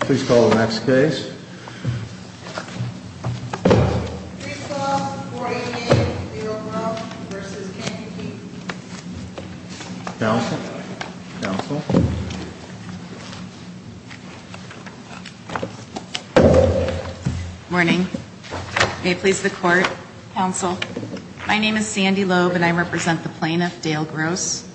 Please call the next case. Please call 48A, Dale Gross v. Kennedy. Counsel? Counsel? Morning. May it please the Court, Counsel. My name is Sandy Loeb and I represent the plaintiff, Dale Gross.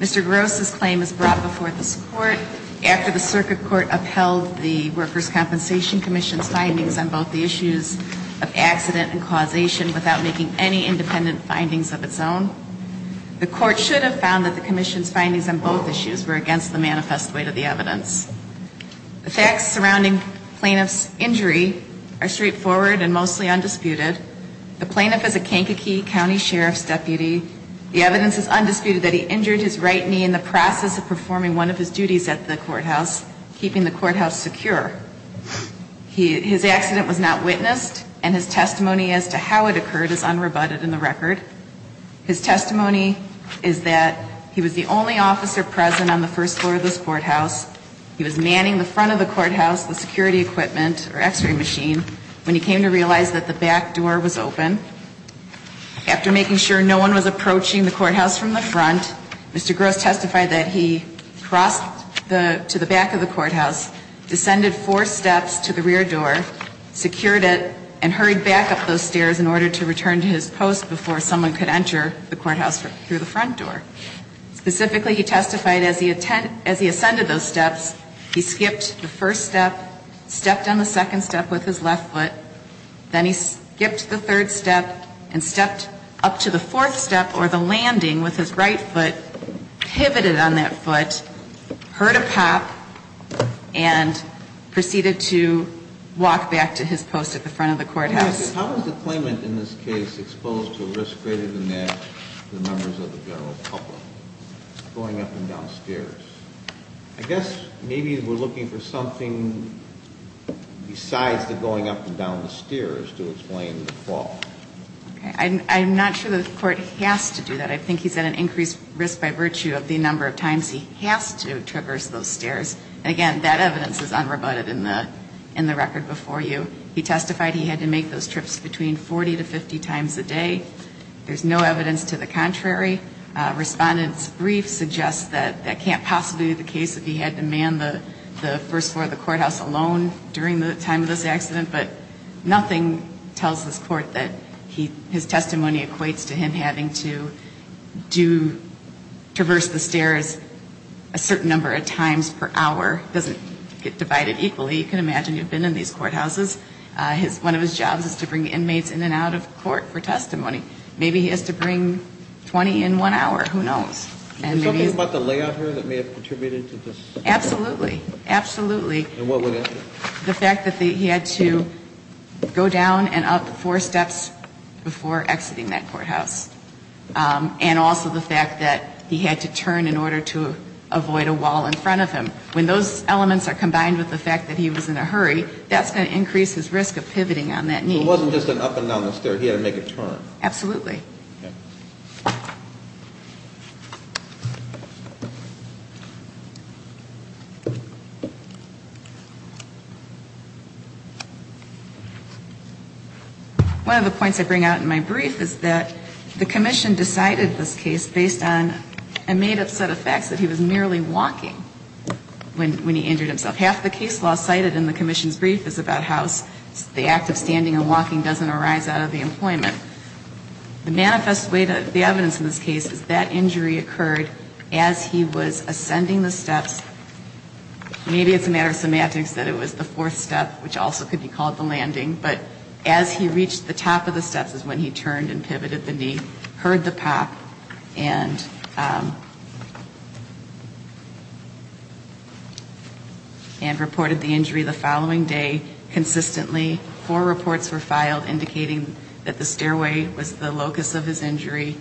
Mr. Gross' claim is brought before this Court after the Circuit Court upheld the Workers' Compensation Commission's findings on both the issues of accident and causation without making any independent findings of its own. The Court should have found that the Commission's findings on both issues were against the manifest weight of the evidence. The facts surrounding the plaintiff's injury are straightforward and mostly undisputed. The plaintiff is a Kankakee County Sheriff's deputy. The evidence is undisputed that he injured his right knee in the process of performing one of his duties at the courthouse, keeping the courthouse secure. His accident was not witnessed and his testimony as to how it occurred is unrebutted in the record. His testimony is that he was the only officer present on the first floor of this courthouse. He was manning the front of the courthouse, the security equipment, or x-ray machine, when he came to realize that the back door was open. After making sure no one was approaching the courthouse from the front, Mr. Gross testified that he crossed to the back of the courthouse, descended four steps to the rear door, secured it, and hurried back up those stairs in order to return to his post before someone could enter the courthouse through the front door. Specifically, he testified as he ascended those steps, he skipped the first step, stepped on the second step with his left foot, then he skipped the third step and stepped up to the fourth step or the landing with his right foot, pivoted on that foot, heard a pop, and proceeded to walk back to his post at the front of the courthouse. How is the claimant in this case exposed to a risk greater than that to the members of the general public, going up and down stairs? I guess maybe we're looking for something besides the going up and down the stairs to explain the fall. I'm not sure the court has to do that. I think he's at an increased risk by virtue of the number of times he has to traverse those stairs. And again, that evidence is unrebutted in the record before you. He testified he had to make those trips between 40 to 50 times a day. There's no evidence to the contrary. Respondent's brief suggests that that can't possibly be the case if he had to man the first floor of the courthouse alone during the time of this accident. But nothing tells this Court that his testimony equates to him having to traverse the stairs a certain number of times per hour. It doesn't get divided equally. You can imagine you've been in these courthouses. One of his jobs is to bring inmates in and out of court for testimony. Maybe he has to bring 20 in one hour. Who knows? Is there something about the layout here that may have contributed to this? Absolutely. Absolutely. And what would it be? The fact that he had to go down and up four steps before exiting that courthouse. And also the fact that he had to turn in order to avoid a wall in front of him. When those elements are combined with the fact that he was in a hurry, that's going to increase his risk of pivoting on that knee. It wasn't just an up and down the stairs. He had to make a turn. Absolutely. Okay. One of the points I bring out in my brief is that the Commission decided this case based on a made-up set of facts, that he was merely walking when he injured himself. Half the case law cited in the Commission's brief is about how the act of standing and walking doesn't arise out of the employment. The manifest way to the evidence in this case is that injury occurred as he was ascending the steps. Maybe it's a matter of semantics that it was the fourth step, which also could be called the landing, but as he reached the top of the steps is when he turned and pivoted the knee, heard the pop, and reported the injury the following day consistently. Four reports were filed indicating that the stairway was the locus of his injury.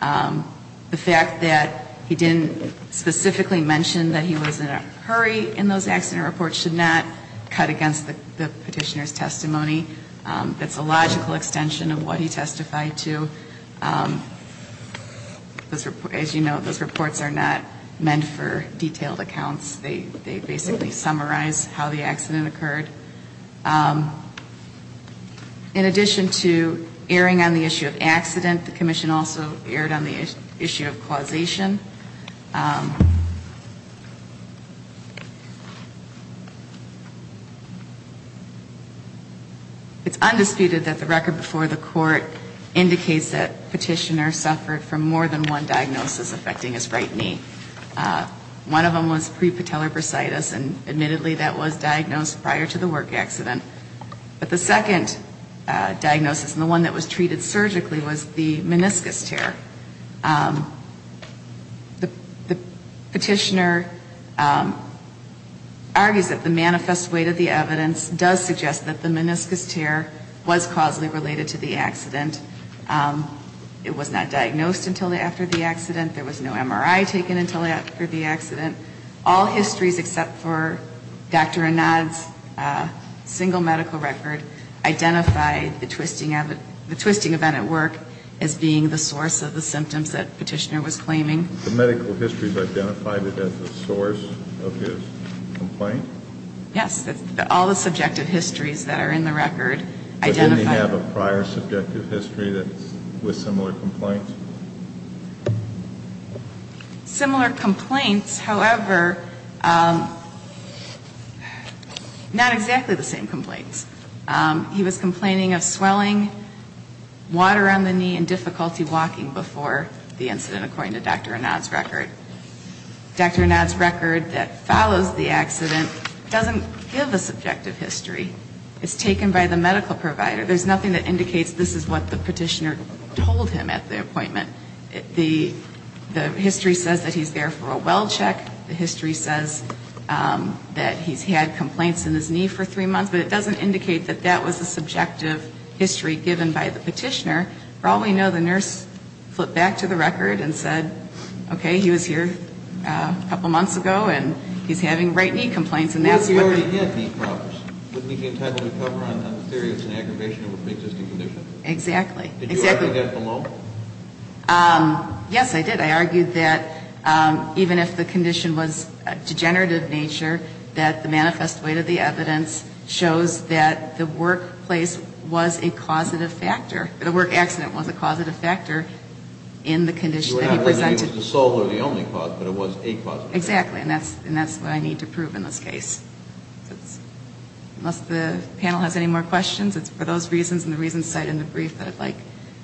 The fact that he didn't specifically mention that he was in a hurry in those accident reports should not cut against the petitioner's testimony. That's a logical extension of what he testified to. As you know, those reports are not meant for detailed accounts. They basically summarize how the accident occurred. In addition to erring on the issue of accident, the Commission also erred on the issue of causation. It's undisputed that the record before the court indicates that petitioner suffered from more than one diagnosis affecting his right knee. One of them was pre-patellar bursitis, and admittedly that was diagnosed prior to the work accident. But the second diagnosis, and the one that was treated surgically, was the meniscus tear. The petitioner argues that the manifest weight of the evidence does suggest that the meniscus tear was causally related to the accident. It was not diagnosed until after the accident. There was no MRI taken until after the accident. All histories except for Dr. Inad's single medical record identify the twisting event at work as being the source of the symptoms that petitioner was claiming. The medical histories identified it as the source of his complaint? Yes. Did he have a prior subjective history with similar complaints? Similar complaints, however, not exactly the same complaints. He was complaining of swelling, water on the knee, and difficulty walking before the incident, according to Dr. Inad's record. Dr. Inad's record that follows the accident doesn't give a subjective history. It's taken by the medical provider. There's nothing that indicates this is what the petitioner told him at the appointment. The history says that he's there for a well check. The history says that he's had complaints in his knee for three months. But it doesn't indicate that that was a subjective history given by the petitioner. For all we know, the nurse flipped back to the record and said, okay, he was here a couple months ago, and he's having right knee complaints. Well, he already had knee problems, but we can't have any cover on that. In theory, it's an aggravation of an existing condition. Exactly. Did you argue that at the moment? Yes, I did. I argued that even if the condition was degenerative in nature, that the manifest weight of the evidence shows that the workplace was a causative factor. The work accident was a causative factor in the condition that he presented. It was the sole or the only cause, but it was a causative factor. Exactly. And that's what I need to prove in this case. Unless the panel has any more questions, it's for those reasons and the reasons cited in the brief that I'd like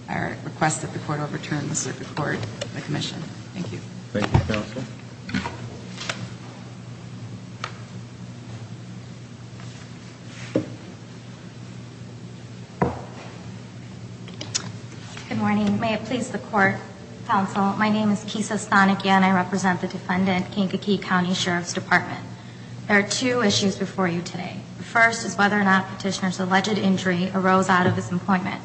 or request that the court overturn the circuit court and the commission. Thank you. Thank you, counsel. Good morning. May it please the court. Good morning, counsel. My name is Kesa Stahnikian. I represent the defendant, Kankakee County Sheriff's Department. There are two issues before you today. The first is whether or not petitioner's alleged injury arose out of his employment.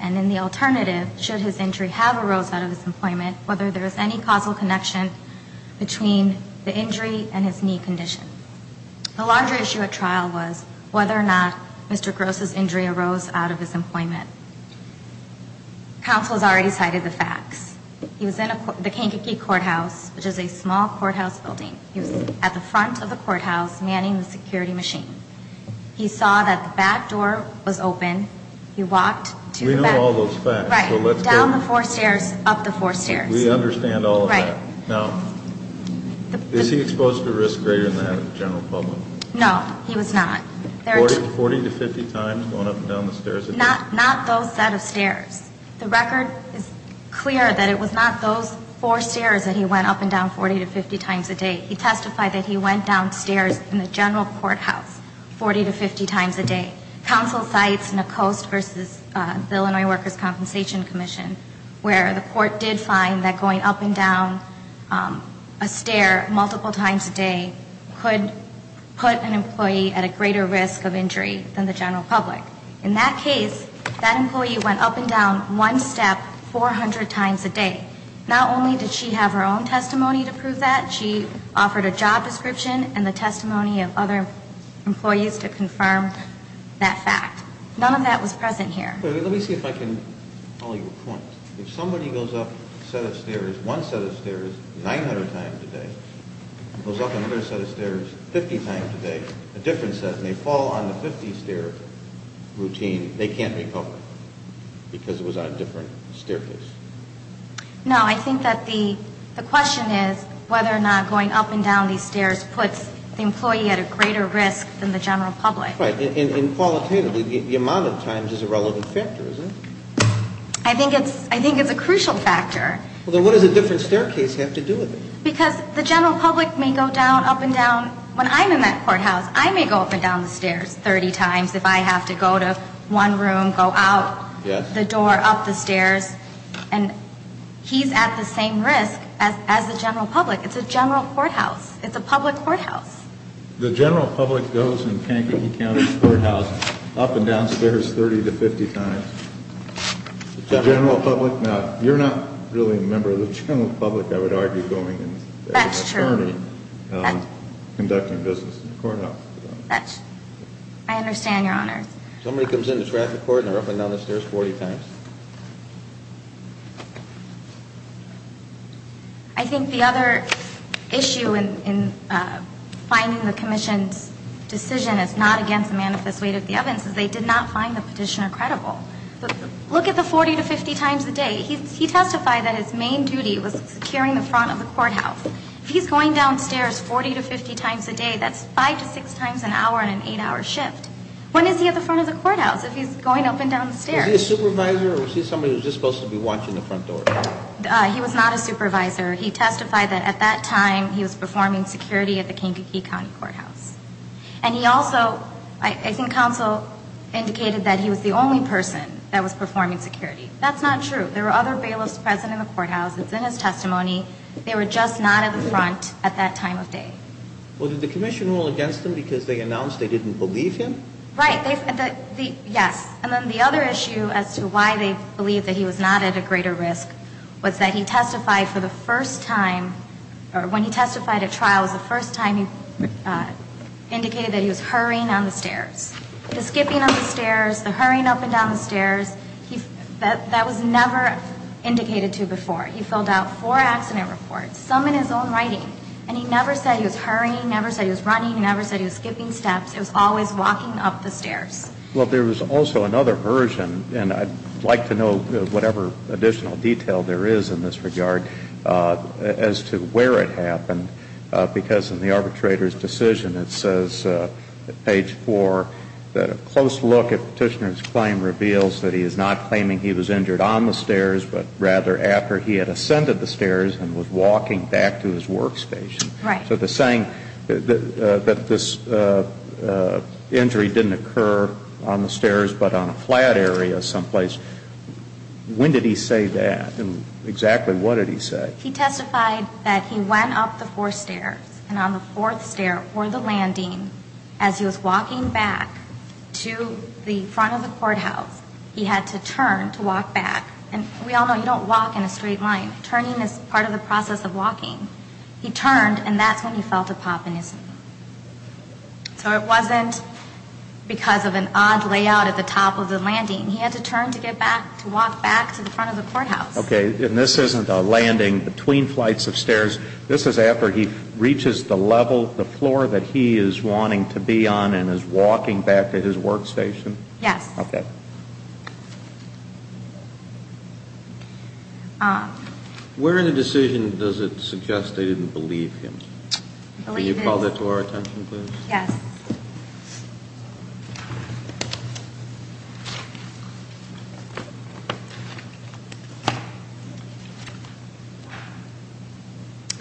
And then the alternative, should his injury have arose out of his employment, whether there is any causal connection between the injury and his knee condition. The larger issue at trial was whether or not Mr. Gross's injury arose out of his employment. Counsel has already cited the facts. He was in the Kankakee Courthouse, which is a small courthouse building. He was at the front of the courthouse manning the security machine. He saw that the back door was open. He walked to the back. We know all those facts. Right. Down the four stairs, up the four stairs. We understand all of that. Right. Now, is he exposed to risk greater than that in the general public? No, he was not. 40 to 50 times going up and down the stairs? Not those set of stairs. The record is clear that it was not those four stairs that he went up and down 40 to 50 times a day. He testified that he went down stairs in the general courthouse 40 to 50 times a day. Counsel cites Nacoste v. Illinois Workers' Compensation Commission, where the court did find that going up and down a stair multiple times a day could put an employee at a greater risk of injury than the general public. In that case, that employee went up and down one step 400 times a day. Not only did she have her own testimony to prove that, she offered a job description and the testimony of other employees to confirm that fact. None of that was present here. Let me see if I can follow your point. If somebody goes up a set of stairs, one set of stairs, 900 times a day, goes up another set of stairs 50 times a day, a different set, and they fall on the 50-stair routine, they can't be public because it was on a different staircase. No, I think that the question is whether or not going up and down these stairs puts the employee at a greater risk than the general public. Right. And qualitatively, the amount of times is a relevant factor, isn't it? I think it's a crucial factor. Well, then what does a different staircase have to do with it? Because the general public may go down, up and down. When I'm in that courthouse, I may go up and down the stairs 30 times if I have to go to one room, go out the door, up the stairs. And he's at the same risk as the general public. It's a general courthouse. It's a public courthouse. The general public goes in Kankakee County Courthouse up and down stairs 30 to 50 times. The general public, no. You're not really a member of the general public, I would argue, going as an attorney conducting business in the courthouse. I understand, Your Honor. Somebody comes into traffic court and they're up and down the stairs 40 times. I think the other issue in finding the commission's decision is not against the manifest weight of the evidence, is they did not find the petitioner credible. Look at the 40 to 50 times a day. He testified that his main duty was securing the front of the courthouse. If he's going downstairs 40 to 50 times a day, that's 5 to 6 times an hour in an 8-hour shift. When is he at the front of the courthouse if he's going up and down the stairs? Is he a supervisor or is he somebody who's just supposed to be watching the front door? He was not a supervisor. He testified that at that time he was performing security at the Kankakee County Courthouse. And he also, I think counsel indicated that he was the only person that was performing security. That's not true. There were other bailiffs present in the courthouse. It's in his testimony. They were just not at the front at that time of day. Well, did the commission rule against him because they announced they didn't believe him? Right. Yes. And then the other issue as to why they believed that he was not at a greater risk was that he testified for the first time or when he testified at trial was the first time he indicated that he was hurrying down the stairs. The skipping of the stairs, the hurrying up and down the stairs, that was never indicated to before. He filled out four accident reports, some in his own writing, and he never said he was hurrying, never said he was running, never said he was skipping steps. It was always walking up the stairs. Well, there was also another version, and I'd like to know whatever additional detail there is in this regard, as to where it happened because in the arbitrator's decision it says at page four that a close look at Petitioner's claim reveals that he is not claiming he was injured on the stairs but rather after he had ascended the stairs and was walking back to his workstation. Right. So the saying that this injury didn't occur on the stairs but on a flat area someplace, when did he say that and exactly what did he say? He testified that he went up the fourth stair and on the fourth stair or the landing, as he was walking back to the front of the courthouse, he had to turn to walk back. And we all know you don't walk in a straight line. Turning is part of the process of walking. He turned and that's when he felt a pop in his knee. So it wasn't because of an odd layout at the top of the landing. He had to turn to get back, to walk back to the front of the courthouse. Okay. And this isn't a landing between flights of stairs. This is after he reaches the level, the floor that he is wanting to be on and is walking back to his workstation? Yes. Okay. Where in the decision does it suggest they didn't believe him? Can you call that to our attention, please? Yes.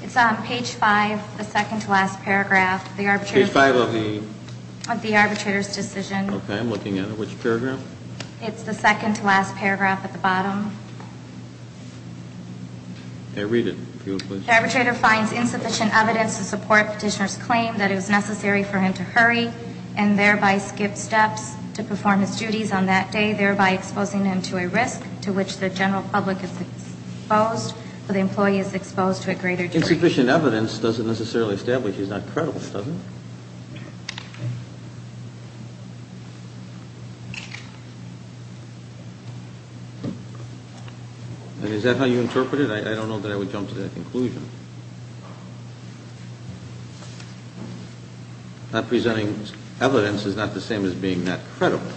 It's on page 5, the second to last paragraph. Page 5 of the? Of the arbitrator's decision. I'm looking at it. Which paragraph? Page 5. It's the second to last paragraph at the bottom. Okay, read it. The arbitrator finds insufficient evidence to support petitioner's claim that it was necessary for him to hurry and thereby skip steps to perform his duties on that day, thereby exposing him to a risk to which the general public is exposed or the employee is exposed to a greater degree. Insufficient evidence doesn't necessarily establish he's not credible, does it? And is that how you interpret it? I don't know that I would jump to that conclusion. Not presenting evidence is not the same as being not credible.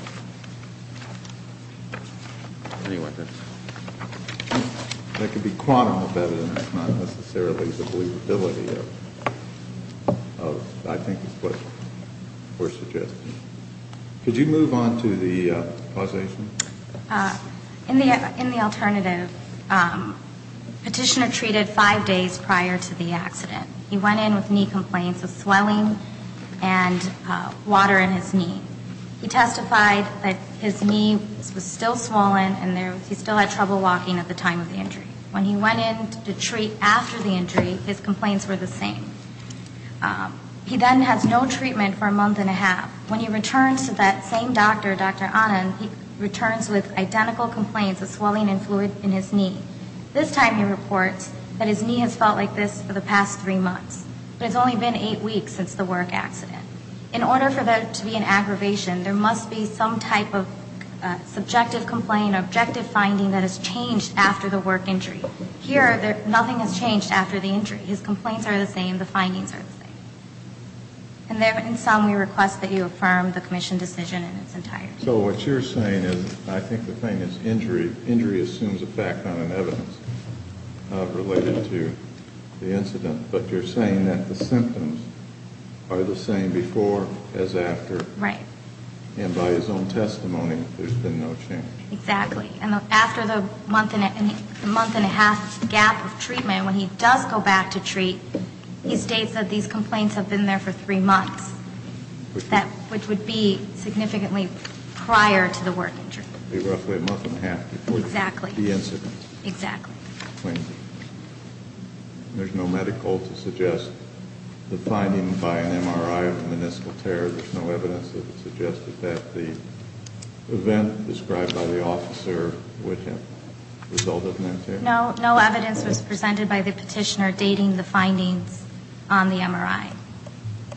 Anyway. That could be quantum of evidence, not necessarily the believability of, I think, what we're suggesting. Could you move on to the causation? In the alternative, petitioner treated five days prior to the accident. He went in with knee complaints of swelling and water in his knee. He testified that his knee was still swollen and he still had trouble walking at the time of the injury. When he went in to treat after the injury, his complaints were the same. He then has no treatment for a month and a half. When he returns to that same doctor, Dr. Anand, he returns with identical complaints of swelling and fluid in his knee. This time he reports that his knee has felt like this for the past three months, but it's only been eight weeks since the work accident. In order for there to be an aggravation, there must be some type of subjective complaint, objective finding that has changed after the work injury. Here, nothing has changed after the injury. His complaints are the same. The findings are the same. In sum, we request that you affirm the commission decision in its entirety. So what you're saying is, I think the thing is injury. Injury assumes effect on an evidence related to the incident, but you're saying that the symptoms are the same before as after. Right. And by his own testimony, there's been no change. Exactly. After the month and a half gap of treatment, and when he does go back to treat, he states that these complaints have been there for three months, which would be significantly prior to the work injury. It would be roughly a month and a half before the incident. Exactly. There's no medical to suggest the finding by an MRI of the meniscal tear. There's no evidence that it suggested that the event described by the officer would have resulted in a tear. No. No evidence was presented by the petitioner dating the findings on the MRI.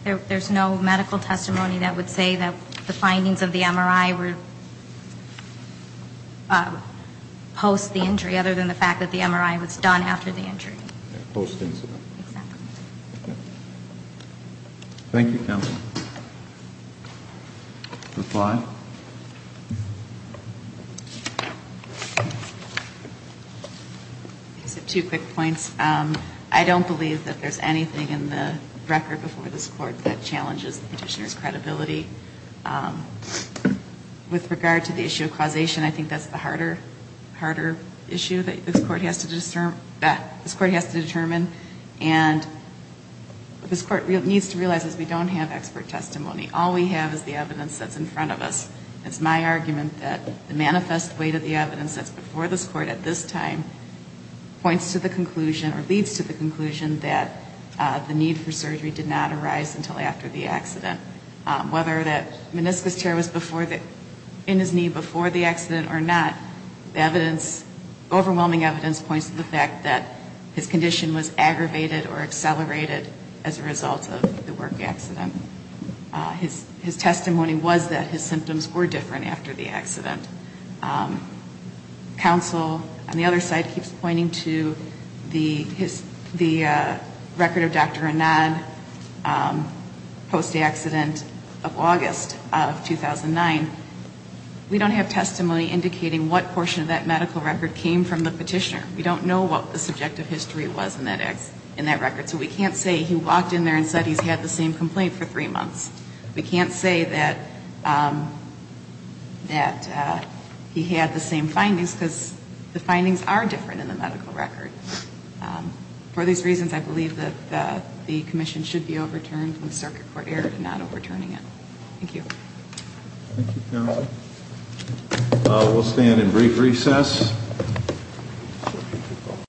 There's no medical testimony that would say that the findings of the MRI were post the injury, other than the fact that the MRI was done after the injury. Post incident. Exactly. Thank you, counsel. Ms. Bly? I just have two quick points. I don't believe that there's anything in the record before this court that challenges the petitioner's credibility. With regard to the issue of causation, I think that's the harder issue that this court has to determine. And what this court needs to realize is we don't have expert testimony. All we have is the evidence that's in front of us. It's my argument that the manifest weight of the evidence that's before this court at this time points to the conclusion or leads to the conclusion that the need for surgery did not arise until after the accident. Whether that meniscus tear was in his knee before the accident or not, the evidence, overwhelming evidence points to the fact that his condition was aggravated or accelerated as a result of the work accident. His testimony was that his symptoms were different after the accident. Counsel, on the other side, keeps pointing to the record of Dr. Anand post-accident of August of 2009. We don't have testimony indicating what portion of that medical record came from the petitioner. We don't know what the subjective history was in that record. So we can't say he walked in there and said he's had the same complaint for three months. We can't say that he had the same findings because the findings are different in the medical record. For these reasons, I believe that the commission should be overturned and the circuit court error for not overturning it. Thank you. Thank you, counsel. We'll stand in brief recess.